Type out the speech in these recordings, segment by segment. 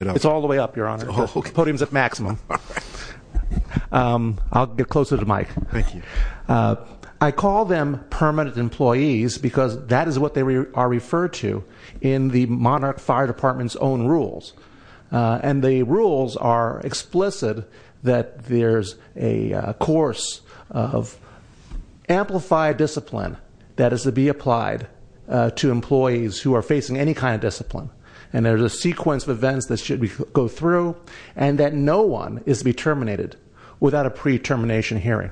It's all the way up, Your Honor, the podium's at maximum. I'll get closer to Mike. Thank you. I call them permanent employees because that is what they are referred to in the Monarch Fire Department's own rules. And the rules are explicit that there's a course of amplified discipline that is to be applied to employees who are facing any kind of discipline. And there's a sequence of events that should go through, and that no one is to be terminated without a pre-termination hearing.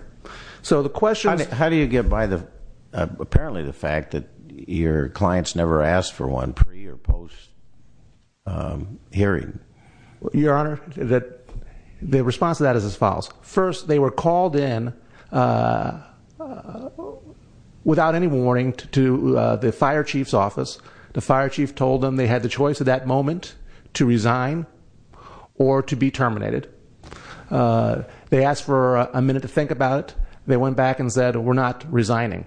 So the question- How do you get by the, apparently the fact that your clients never asked for one pre or post hearing? Your Honor, the response to that is as follows. First, they were called in without any warning to the fire chief's office. The fire chief told them they had the choice at that moment to resign or to be terminated. They asked for a minute to think about it. They went back and said, we're not resigning.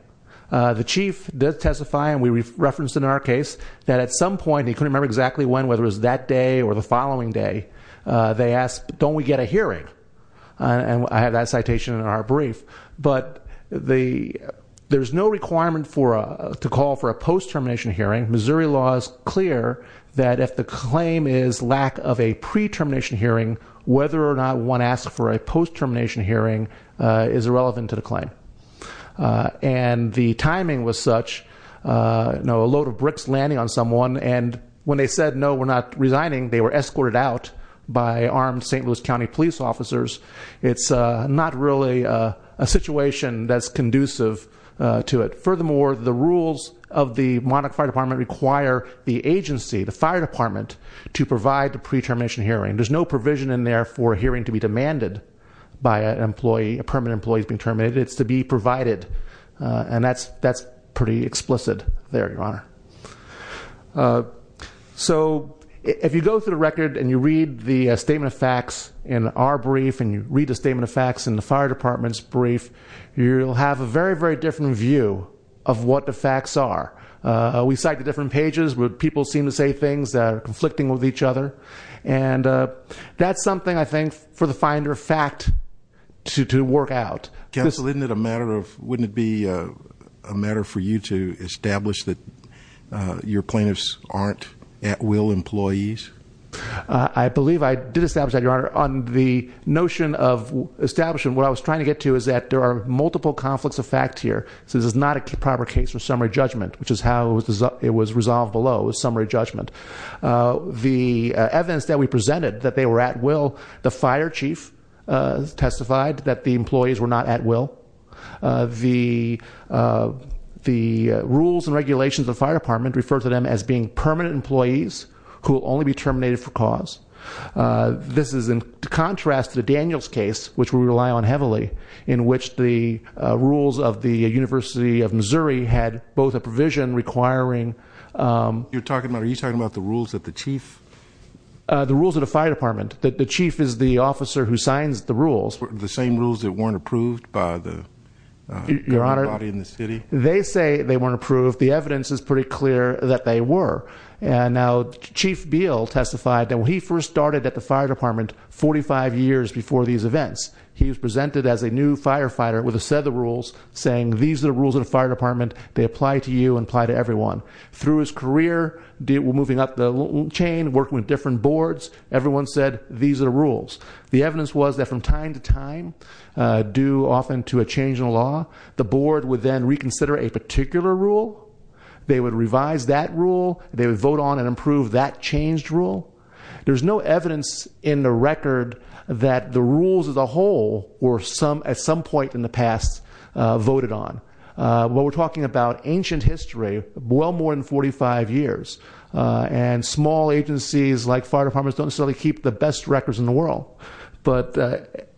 The chief did testify, and we referenced in our case, that at some point, he couldn't remember exactly when, whether it was that day or the following day, they asked, don't we get a hearing? And I have that citation in our brief. But there's no requirement to call for a post-termination hearing. Missouri law is clear that if the claim is lack of a pre-termination hearing, whether or not one asks for a post-termination hearing is irrelevant to the claim. And the timing was such, a load of bricks landing on someone, and when they said no, we're not resigning, they were escorted out by armed St. Louis County police officers. It's not really a situation that's conducive to it. Furthermore, the rules of the Monarch Fire Department require the agency, the fire department, to provide the pre-termination hearing. There's no provision in there for a hearing to be demanded by a permanent employee being terminated. It's to be provided, and that's pretty explicit there, Your Honor. So, if you go through the record and you read the statement of facts in our brief, and you read the statement of facts in the fire department's brief, you'll have a very, very different view of what the facts are. We cite the different pages where people seem to say things that are conflicting with each other. And that's something, I think, for the finder of fact to work out. Counsel, wouldn't it be a matter for you to establish that your plaintiffs aren't at will employees? I believe I did establish that, Your Honor. On the notion of establishment, what I was trying to get to is that there are multiple conflicts of fact here. So this is not a proper case for summary judgment, which is how it was resolved below, was summary judgment. The evidence that we presented that they were at will, the fire chief testified that the employees were not at will. The rules and regulations of the fire department refer to them as being permanent employees who will only be terminated for cause. This is in contrast to Daniel's case, which we rely on heavily, in which the rules of the University of Missouri had both a provision requiring- You're talking about, are you talking about the rules that the chief? The rules of the fire department, that the chief is the officer who signs the rules. The same rules that weren't approved by the body in the city? They say they weren't approved. The evidence is pretty clear that they were. And now Chief Beal testified that when he first started at the fire department 45 years before these events, he was presented as a new firefighter with a set of rules saying these are the rules of the fire department. They apply to you and apply to everyone. Through his career, moving up the chain, working with different boards, everyone said these are the rules. The evidence was that from time to time, due often to a change in law, the board would then reconsider a particular rule. They would revise that rule, they would vote on and approve that changed rule. There's no evidence in the record that the rules as a whole were at some point in the past voted on. What we're talking about, ancient history, well more than 45 years. And small agencies like fire departments don't necessarily keep the best records in the world. But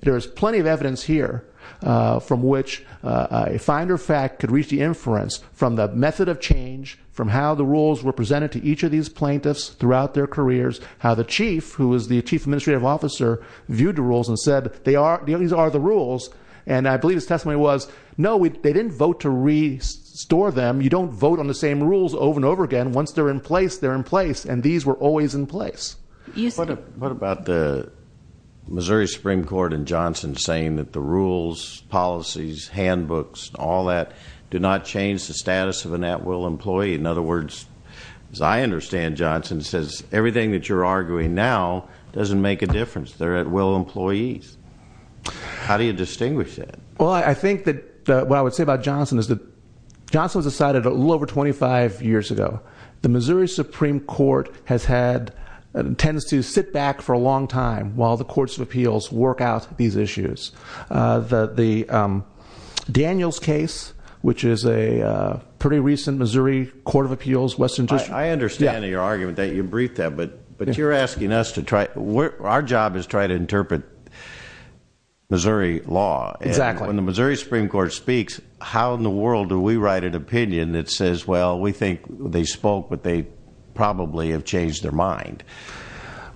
there's plenty of evidence here from which a finder fact could reach the inference from the method of change, from how the rules were presented to each of these plaintiffs throughout their careers, how the chief, who was the chief administrative officer, viewed the rules and said, these are the rules. And I believe his testimony was, no, they didn't vote to restore them. You don't vote on the same rules over and over again. Once they're in place, they're in place. And these were always in place. What about the Missouri Supreme Court and Johnson saying that the rules, policies, handbooks, all that do not change the status of an at-will employee. In other words, as I understand Johnson, it says everything that you're arguing now doesn't make a difference. They're at-will employees. How do you distinguish that? Well, I think that what I would say about Johnson is that Johnson decided a little over 25 years ago, the Missouri Supreme Court has had, tends to sit back for a long time while the courts of appeals work out these issues. The Daniels case, which is a pretty recent Missouri Court of Appeals, Western District. I understand your argument that you briefed that, but you're asking us to try, our job is try to interpret Missouri law. And when the Missouri Supreme Court speaks, how in the world do we write an opinion that says, well, we think they spoke, but they probably have changed their mind.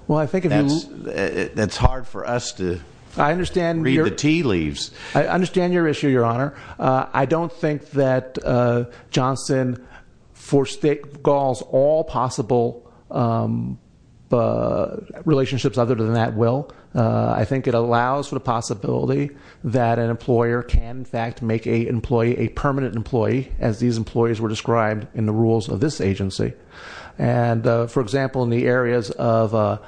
Well, I think if you- That's hard for us to read the tea leaves. I understand your issue, your honor. I don't think that Johnson for state goals all possible relationships other than that will. I think it allows for the possibility that an employer can in fact make a permanent employee, as these employees were described in the rules of this agency. And for example, in the areas of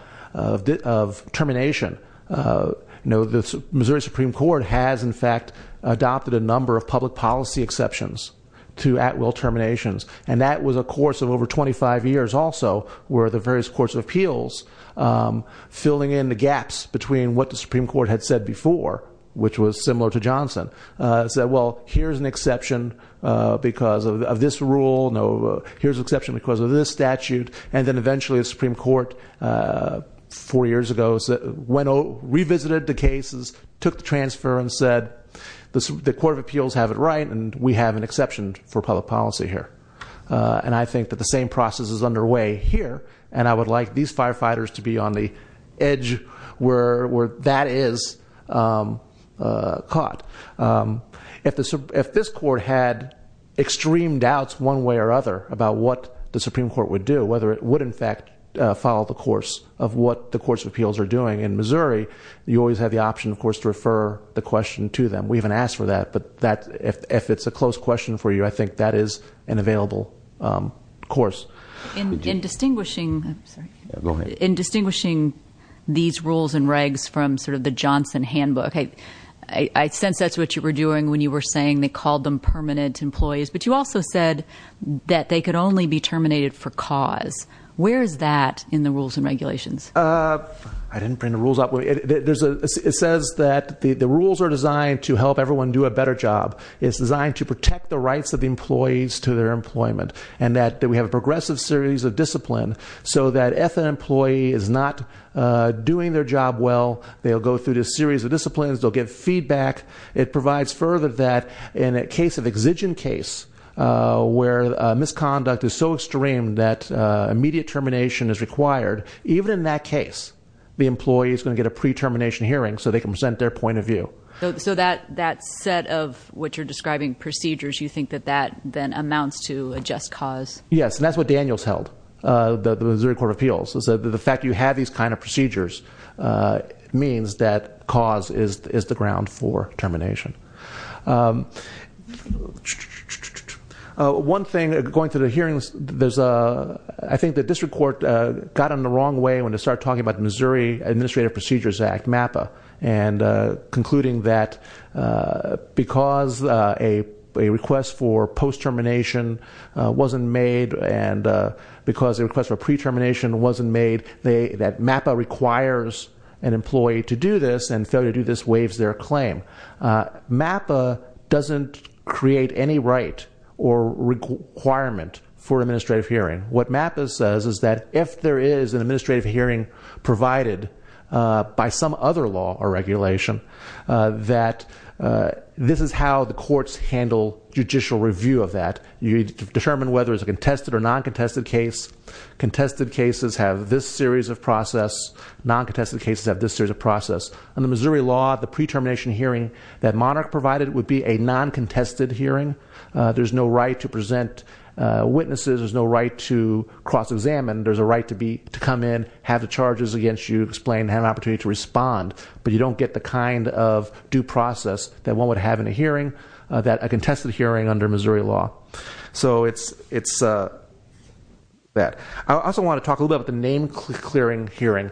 termination, the Missouri Supreme Court has in fact adopted a number of public policy exceptions to at will terminations. And that was a course of over 25 years also, where the various courts of appeals filling in the gaps between what the Supreme Court had said before, which was similar to Johnson. Said well, here's an exception because of this rule, here's an exception because of this statute. And then eventually the Supreme Court four years ago revisited the cases, took the transfer and said the court of appeals have it right and we have an exception for public policy here. And I think that the same process is underway here. And I would like these firefighters to be on the edge where that is caught. If this court had extreme doubts one way or other about what the Supreme Court would do, whether it would in fact follow the course of what the courts of appeals are doing in Missouri, you always have the option of course to refer the question to them. We haven't asked for that, but if it's a close question for you, I think that is an available course. In distinguishing these rules and regs from sort of the Johnson handbook, okay, I sense that's what you were doing when you were saying they called them permanent employees. But you also said that they could only be terminated for cause. Where is that in the rules and regulations? I didn't bring the rules up. It says that the rules are designed to help everyone do a better job. It's designed to protect the rights of the employees to their employment. And that we have a progressive series of discipline so that if an employee is not doing their job well, they'll go through this series of disciplines, they'll get feedback. It provides further that in a case of exigent case where misconduct is so extreme that immediate termination is required, even in that case, the employee is going to get a pre-termination hearing so they can present their point of view. So that set of what you're describing, procedures, you think that that then amounts to a just cause? Yes, and that's what Daniels held, the Missouri Court of Appeals. So the fact that you have these kind of procedures means that cause is the ground for termination. One thing, going through the hearings, I think the district court got in the wrong way when they started talking about Missouri Administrative Procedures Act, MAPA. And concluding that because a request for pre-termination wasn't made, that MAPA requires an employee to do this, and failure to do this waives their claim. MAPA doesn't create any right or requirement for administrative hearing. What MAPA says is that if there is an administrative hearing provided by some other law or regulation, that this is how the courts handle judicial review of that. You determine whether it's a contested or non-contested case. Contested cases have this series of process, non-contested cases have this series of process. In the Missouri law, the pre-termination hearing that Monarch provided would be a non-contested hearing. There's no right to present witnesses, there's no right to cross-examine. There's a right to come in, have the charges against you explained, have an opportunity to respond. But you don't get the kind of due process that one would have in a hearing, that a contested hearing under Missouri law. So it's that. I also want to talk a little bit about the name clearing hearing.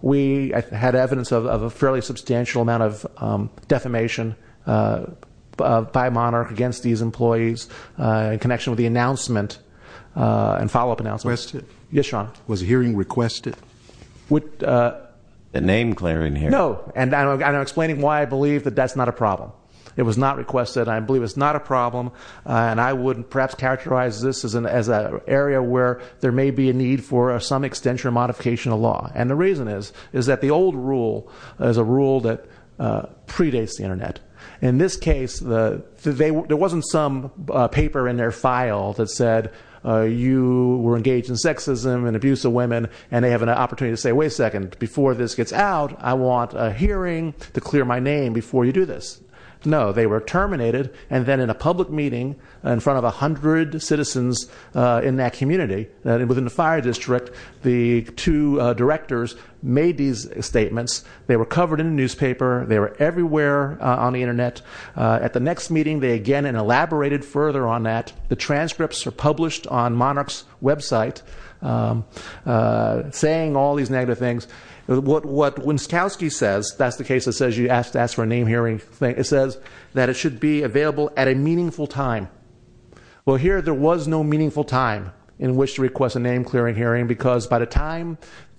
We had evidence of a fairly substantial amount of defamation by Monarch against these employees. In connection with the announcement, and follow-up announcement. Yes, Sean. Was a hearing requested? With- The name clearing hearing. No, and I'm explaining why I believe that that's not a problem. It was not requested, and I believe it's not a problem. And I would perhaps characterize this as an area where there may be a need for some extension or modification of law. And the reason is, is that the old rule is a rule that predates the Internet. In this case, there wasn't some paper in their file that said you were engaged in sexism and abuse of women, and they have an opportunity to say, wait a second, before this gets out, I want a hearing to clear my name before you do this. No, they were terminated, and then in a public meeting in front of 100 citizens in that community. And within the fire district, the two directors made these statements. They were covered in the newspaper, they were everywhere on the Internet. At the next meeting, they again elaborated further on that. The transcripts are published on Monarch's website, saying all these negative things. What Winskowski says, that's the case that says you have to ask for a name hearing, it says that it should be available at a meaningful time. Well here, there was no meaningful time in which to request a name clearing hearing, because by the time that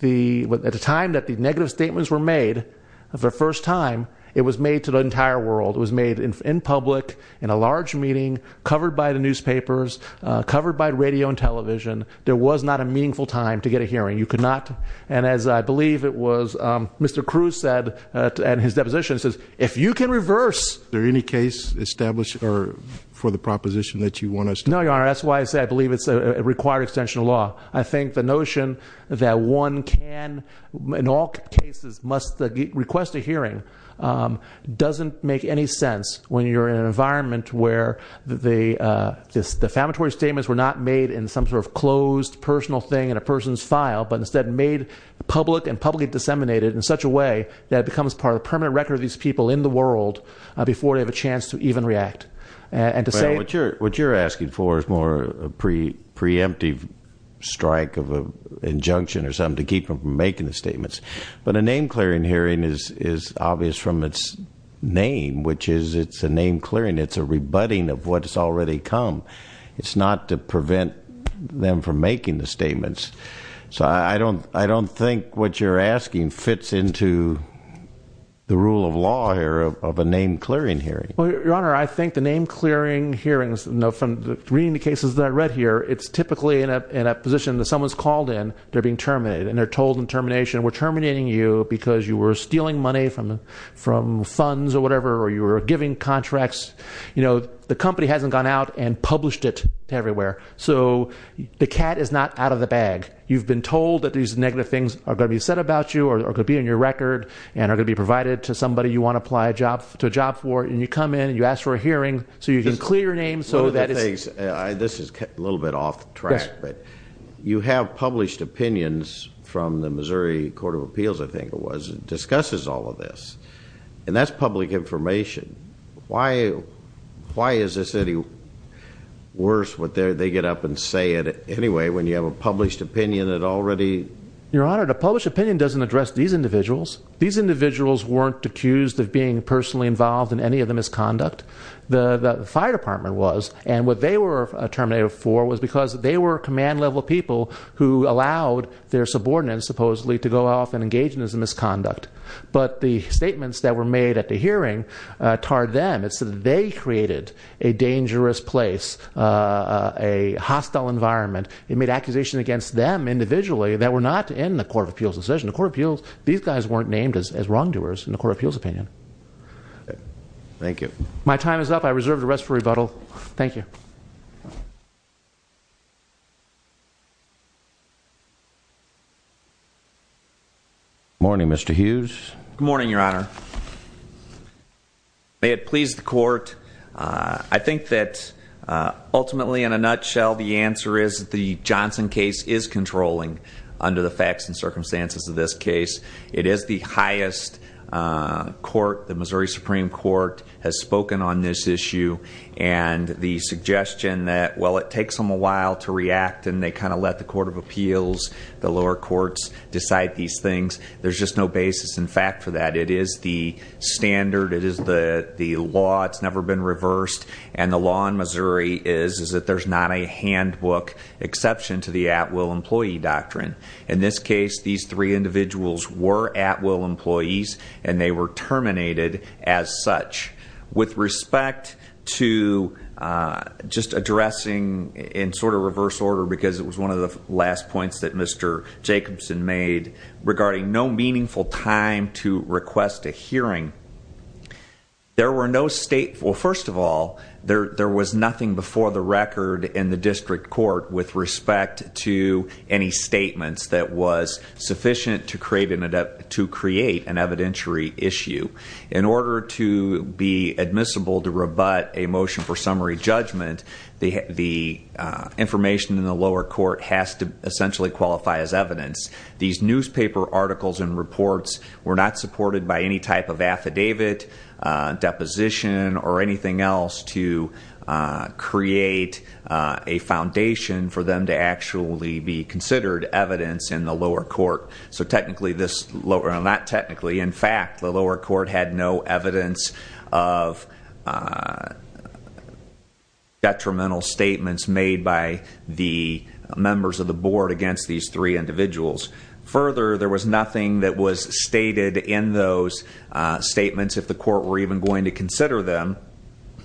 the negative statements were made for the first time, it was made to the entire world, it was made in public, in a large meeting, covered by the newspapers, covered by radio and television. There was not a meaningful time to get a hearing. You could not, and as I believe it was, Mr. Cruz said, and his deposition says, if you can reverse- Is there any case established for the proposition that you want us to- No, Your Honor, that's why I say I believe it's a required extension of law. I think the notion that one can, in all cases, must request a hearing doesn't make any sense when you're in an environment where the defamatory statements were not made in some sort of closed personal thing in a person's file, but instead made public and publicly disseminated in such a way that it becomes part of the permanent record of these people in the world before they have a chance to even react. And to say- What you're asking for is more a preemptive strike of an injunction or something to keep them from making the statements. But a name-clearing hearing is obvious from its name, which is it's a name-clearing, it's a rebutting of what has already come. It's not to prevent them from making the statements. So I don't think what you're asking fits into the rule of law here of a name-clearing hearing. Well, Your Honor, I think the name-clearing hearings, from reading the cases that I read here, it's typically in a position that someone's called in, they're being terminated, and they're told in termination, we're terminating you because you were stealing money from funds or whatever, or you were giving contracts. The company hasn't gone out and published it everywhere, so the cat is not out of the bag. You've been told that these negative things are going to be said about you, or could be in your record, and are going to be provided to somebody you want to apply a job for. And you come in, you ask for a hearing, so you can clear your name, so that it's- This is a little bit off track, but you have published opinions from the Missouri Court of Appeals, I think it was, that discusses all of this. And that's public information. Why is this any worse, what they get up and say it anyway, when you have a published opinion that already- Your Honor, the published opinion doesn't address these individuals. These individuals weren't accused of being personally involved in any of the misconduct. The fire department was, and what they were terminated for was because they were command level people who allowed their subordinates, supposedly, to go off and engage in this misconduct. But the statements that were made at the hearing tarred them. It's that they created a dangerous place, a hostile environment. It made accusations against them individually that were not in the Court of Appeals' decision. The Court of Appeals, these guys weren't named as wrongdoers in the Court of Appeals' opinion. Thank you. My time is up. I reserve the rest for rebuttal. Thank you. Morning, Mr. Hughes. Good morning, Your Honor. May it please the court, I think that ultimately, in a nutshell, the answer is that the Johnson case is controlling under the facts and circumstances of this case. It is the highest court, the Missouri Supreme Court, has spoken on this issue. And the suggestion that, well, it takes them a while to react and they kind of let the Court of Appeals, the lower courts, decide these things. There's just no basis in fact for that. It is the standard, it is the law, it's never been reversed. And the law in Missouri is that there's not a handbook exception to the at will employee doctrine. In this case, these three individuals were at will employees and they were terminated as such. With respect to just addressing in sort of reverse order, because it was one of the last points that Mr. Jacobson made regarding no meaningful time to request a hearing. There were no stateful, first of all, there was nothing before the record in the district court with respect to any statements that was sufficient to create an evidentiary issue. In order to be admissible to rebut a motion for summary judgment, the information in the lower court has to essentially qualify as evidence. These newspaper articles and reports were not supported by any type of affidavit, deposition, or anything else to create a foundation for them to actually be considered evidence in the lower court. So technically this, not technically, in fact, the lower court had no evidence of detrimental statements made by the members of the board against these three individuals. Further, there was nothing that was stated in those statements, if the court were even going to consider them,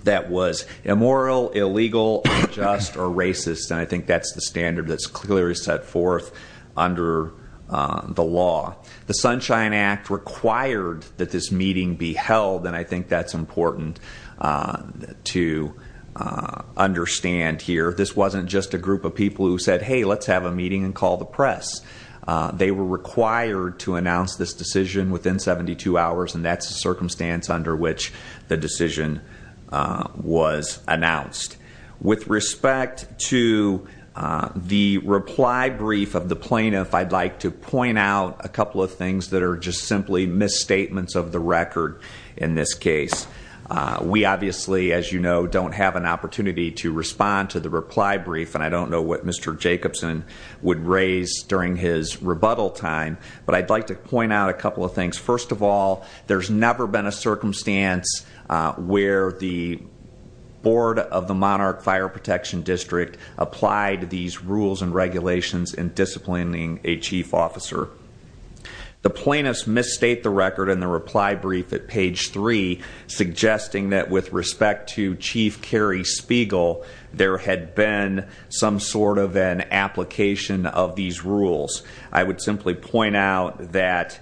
that was immoral, illegal, unjust, or racist. And I think that's the standard that's clearly set forth under the law. The Sunshine Act required that this meeting be held, and I think that's important to understand here. This wasn't just a group of people who said, hey, let's have a meeting and call the press. They were required to announce this decision within 72 hours, and that's the circumstance under which the decision was announced. With respect to the reply brief of the plaintiff, I'd like to point out a couple of things that are just simply misstatements of the record in this case. We obviously, as you know, don't have an opportunity to respond to the reply brief, and I don't know what Mr. Jacobson would raise during his rebuttal time. But I'd like to point out a couple of things. First of all, there's never been a circumstance where the board of the Monarch Fire Protection District applied these rules and regulations in disciplining a chief officer. The plaintiffs misstate the record in the reply brief at page three, suggesting that with respect to Chief Kerry Spiegel, there had been some sort of an application of these rules. I would simply point out that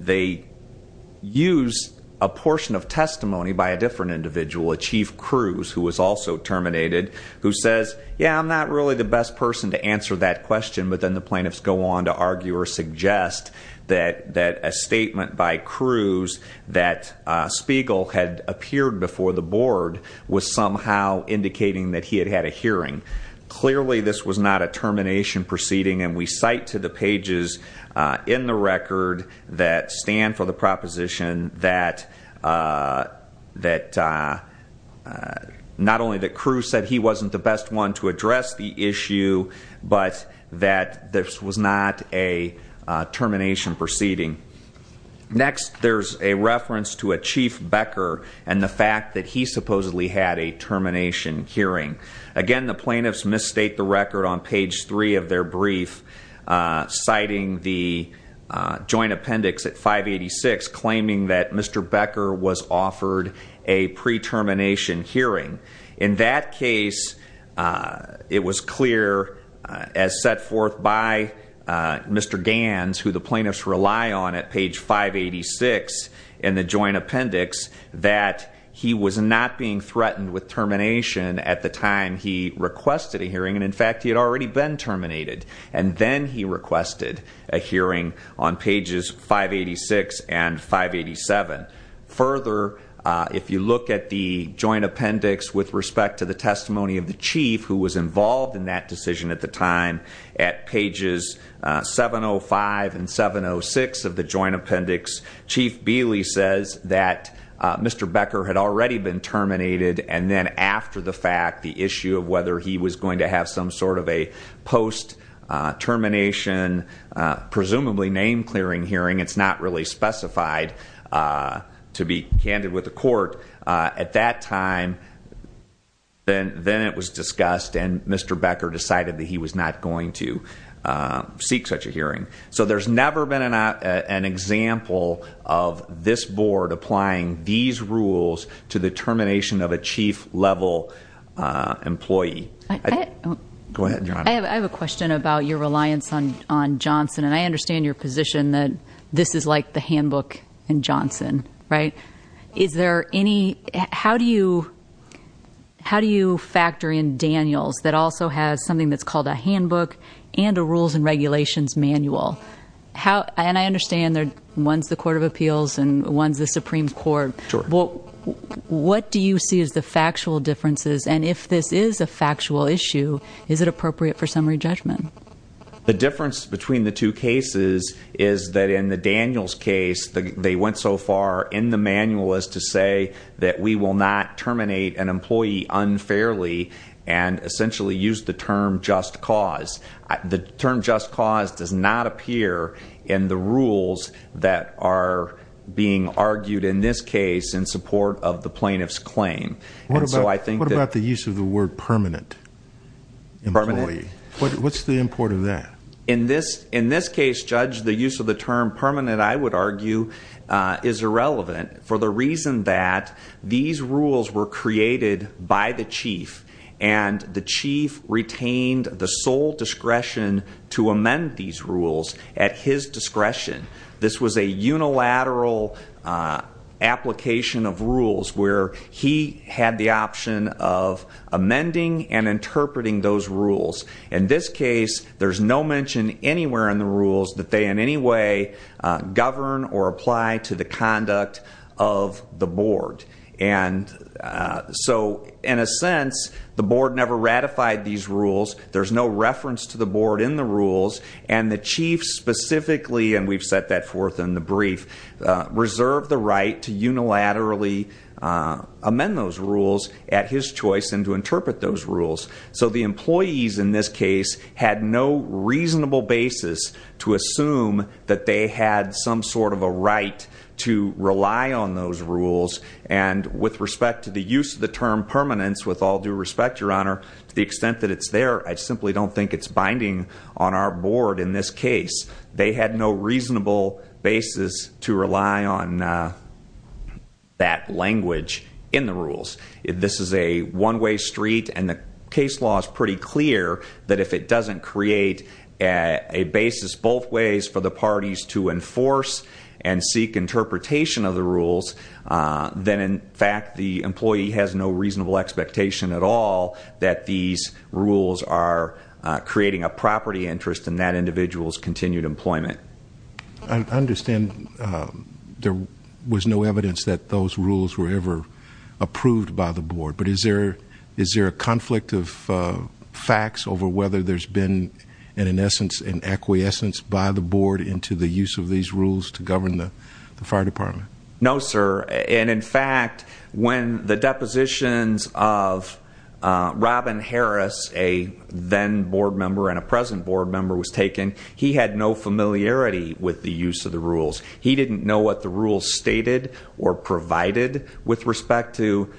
they use a portion of testimony by a different individual, a Chief Cruz, who was also terminated, who says, yeah, I'm not really the best person to answer that question. But then the plaintiffs go on to argue or suggest that a statement by Cruz that Spiegel had appeared before the board was somehow indicating that he had had a hearing. Clearly, this was not a termination proceeding, and we cite to the pages in the record that stand for the proposition that not only that Cruz said he wasn't the best one to address the issue, but that this was not a termination proceeding. Next, there's a reference to a Chief Becker and the fact that he supposedly had a termination hearing. Again, the plaintiffs misstate the record on page three of their brief, citing the joint appendix at 586, claiming that Mr. Becker was offered a pre-termination hearing. In that case, it was clear, as set forth by Mr. Gans, who the plaintiffs rely on at page 586 in the joint appendix, that he was not being threatened with termination at the time he requested a hearing. And in fact, he had already been terminated. And then he requested a hearing on pages 586 and 587. Further, if you look at the joint appendix with respect to the testimony of the chief who was involved in that decision at the time, at pages 705 and 706 of the joint appendix, Chief Bealey says that Mr. Becker had already been terminated. And then after the fact, the issue of whether he was going to have some sort of a post-termination, presumably name-clearing hearing, it's not really specified to be candid with the court. At that time, then it was discussed, and Mr. Becker decided that he was not going to seek such a hearing. So there's never been an example of this board applying these rules to the termination of a chief-level employee. Go ahead, Your Honor. I have a question about your reliance on Johnson. And I understand your position that this is like the handbook in Johnson, right? Is there any, how do you factor in Daniels, that also has something that's called a handbook and a rules and regulations manual? And I understand one's the Court of Appeals and one's the Supreme Court. What do you see as the factual differences? And if this is a factual issue, is it appropriate for summary judgment? The difference between the two cases is that in the Daniels case, they went so far in the manual as to say that we will not terminate an employee unfairly. And essentially used the term just cause. The term just cause does not appear in the rules that are being argued in this case in support of the plaintiff's claim. And so I think that- What about the use of the word permanent? Permanent. What's the import of that? In this case, Judge, the use of the term permanent, I would argue, is irrelevant. For the reason that these rules were created by the chief and the chief retained the sole discretion to amend these rules at his discretion. This was a unilateral application of rules where he had the option of amending and interpreting those rules. In this case, there's no mention anywhere in the rules that they in any way govern or apply to the conduct of the board. And so in a sense, the board never ratified these rules. There's no reference to the board in the rules. And the chief specifically, and we've set that forth in the brief, reserved the right to unilaterally amend those rules at his choice and to interpret those rules. So the employees in this case had no reasonable basis to assume that they had some sort of a right to rely on those rules. And with respect to the use of the term permanence, with all due respect, your honor, to the extent that it's there, I simply don't think it's binding on our board in this case. They had no reasonable basis to rely on that language in the rules. This is a one way street and the case law is pretty clear that if it doesn't create a basis both ways for the parties to enforce and seek interpretation of the rules. Then in fact, the employee has no reasonable expectation at all that these I understand there was no evidence that those rules were ever approved by the board. But is there a conflict of facts over whether there's been an in essence, an acquiescence by the board into the use of these rules to govern the fire department? No sir, and in fact, when the depositions of Robin Harris, a then board member and a present board member was taken, he had no familiarity with the use of the rules. He didn't know what the rules stated or provided with respect to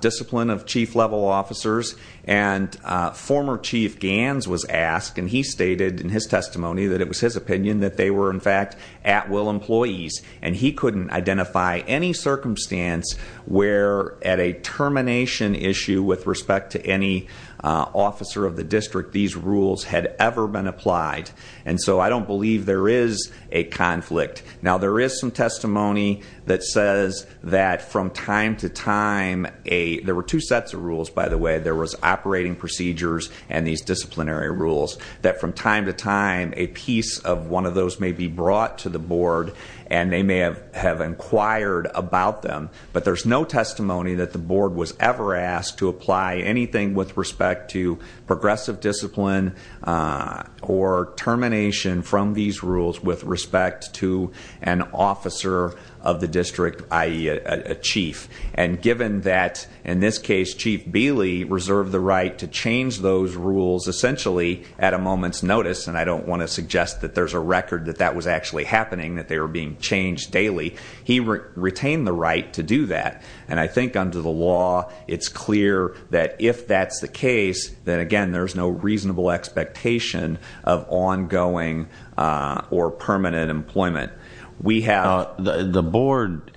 discipline of chief level officers. And former chief Gans was asked and he stated in his testimony that it was his opinion that they were in fact at will employees. And he couldn't identify any circumstance where at a termination issue with respect to any officer of the district these rules had ever been applied. And so I don't believe there is a conflict. Now there is some testimony that says that from time to time, there were two sets of rules by the way. There was operating procedures and these disciplinary rules that from time to time, a piece of one of those may be brought to the board and they may have inquired about them. But there's no testimony that the board was ever asked to apply anything with respect to progressive discipline or termination from these rules with respect to an officer of the district, i.e., a chief. And given that, in this case, Chief Bealey reserved the right to change those rules essentially at a moment's notice. And I don't want to suggest that there's a record that that was actually happening, that they were being changed daily. He retained the right to do that. And I think under the law, it's clear that if that's the case, then again, there's no reasonable expectation of ongoing or permanent employment. We have- The board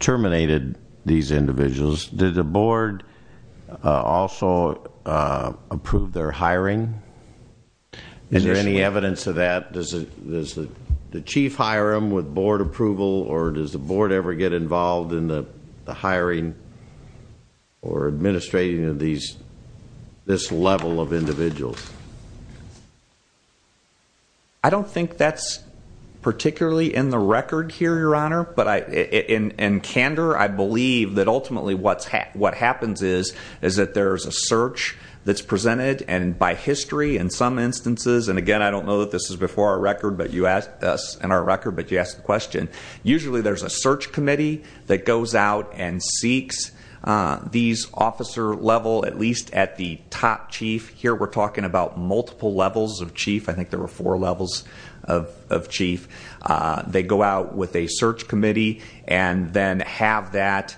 terminated these individuals. Did the board also approve their hiring? Is there any evidence of that? Does the chief hire them with board approval or does the board ever get involved in the hiring or administrating of this level of individuals? I don't think that's particularly in the record here, Your Honor. But in candor, I believe that ultimately what happens is that there's a search that's presented. And by history, in some instances, and again, I don't know that this is before our record, but you asked us in our record, but you asked the question. Usually, there's a search committee that goes out and seeks these officer level, at least at the top chief. Here, we're talking about multiple levels of chief. I think there were four levels of chief. They go out with a search committee and then have that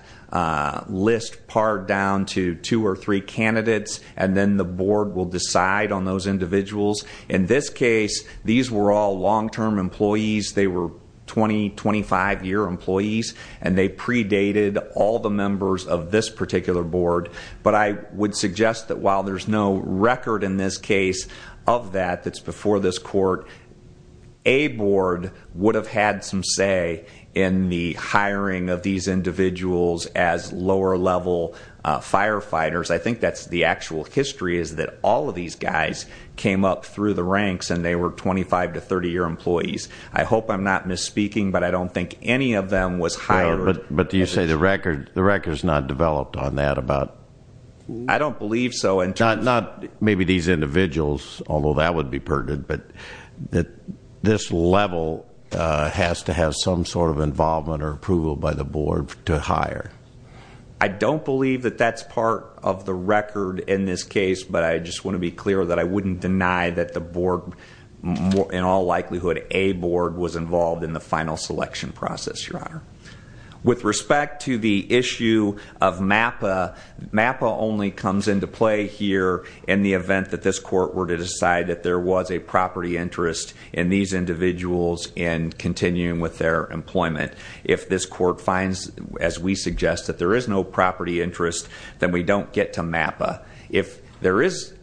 list pared down to two or three candidates, and then the board will decide on those individuals. In this case, these were all long term employees. They were 20, 25 year employees, and they predated all the members of this particular board. But I would suggest that while there's no record in this case of that that's before this court, a board would have had some say in the hiring of these individuals as lower level firefighters. I think that's the actual history, is that all of these guys came up through the ranks and they were 25 to 30 year employees. I hope I'm not misspeaking, but I don't think any of them was hired. But do you say the record's not developed on that about- I don't believe so in terms of- Not maybe these individuals, although that would be pertinent, but this level has to have some sort of involvement or approval by the board to hire. I don't believe that that's part of the record in this case, but I just want to be clear that I wouldn't deny that the board, in all likelihood, a board was involved in the final selection process, your honor. With respect to the issue of MAPA, MAPA only comes into play here in the event that this court were to decide that there was a property interest in these individuals and continuing with their employment. If this court finds, as we suggest, that there is no property interest, then we don't get to MAPA. If there is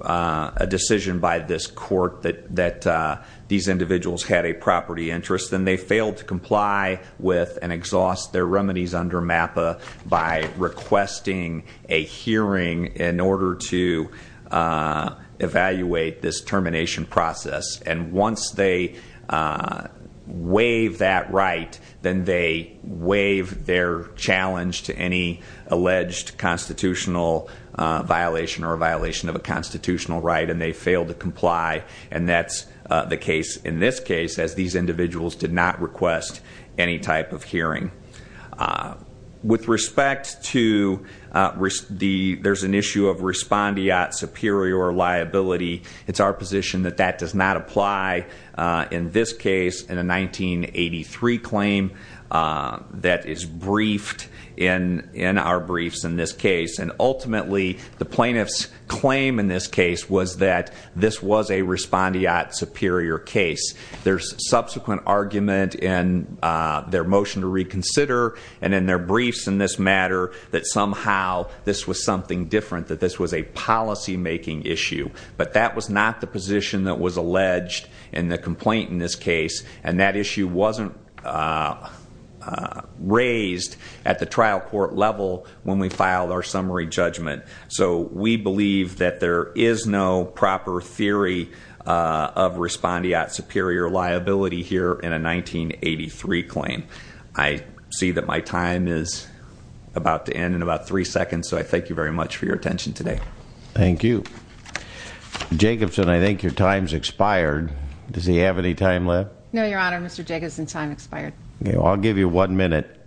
a decision by this court that these individuals had a property interest, then they failed to comply with and exhaust their remedies under MAPA by requesting a hearing in order to evaluate this termination process. And once they waive that right, then they waive their challenge to any alleged constitutional violation or violation of a constitutional right and they fail to comply. And that's the case in this case, as these individuals did not request any type of hearing. With respect to, there's an issue of respondeat superior liability. It's our position that that does not apply in this case in a 1983 claim that is briefed in our briefs in this case. And ultimately, the plaintiff's claim in this case was that this was a respondeat superior case. There's subsequent argument in their motion to reconsider and in their briefs in this matter that somehow this was something different, that this was a policy making issue. But that was not the position that was alleged in the complaint in this case. And that issue wasn't raised at the trial court level when we filed our summary judgment. So we believe that there is no proper theory of respondeat superior liability here in a 1983 claim. I see that my time is about to end in about three seconds, so I thank you very much for your attention today. Thank you. Jacobson, I think your time's expired. Does he have any time left? No, your honor, Mr. Jacobson's time expired. Okay, I'll give you one minute.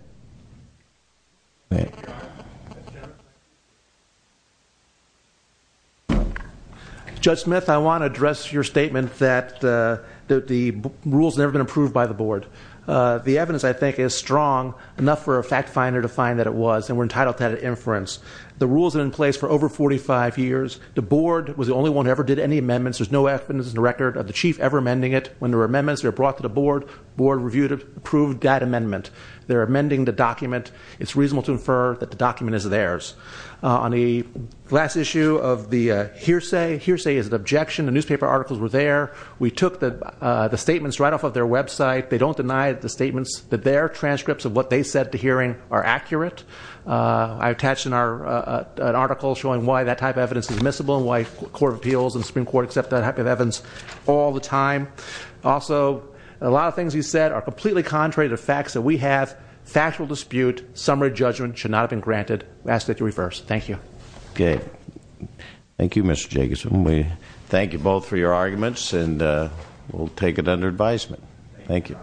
Judge Smith, I want to address your statement that the rule's never been approved by the board. The evidence, I think, is strong enough for a fact finder to find that it was, and we're entitled to that inference. The rules have been in place for over 45 years. The board was the only one who ever did any amendments. There's no evidence in the record of the chief ever amending it. When there were amendments, they were brought to the board. Board reviewed it, approved that amendment. They're amending the document. It's reasonable to infer that the document is theirs. On the last issue of the hearsay, hearsay is an objection. The newspaper articles were there. We took the statements right off of their website. They don't deny the statements, that their transcripts of what they said at the hearing are accurate. I attached an article showing why that type of evidence is admissible and why the Court of Appeals and the Supreme Court accept that type of evidence all the time. Also, a lot of things you said are completely contrary to the facts that we have. Factual dispute, summary judgment should not have been granted. We ask that you reverse. Thank you. Okay, thank you, Mr. Jacobson. We thank you both for your arguments, and we'll take it under advisement. Thank you.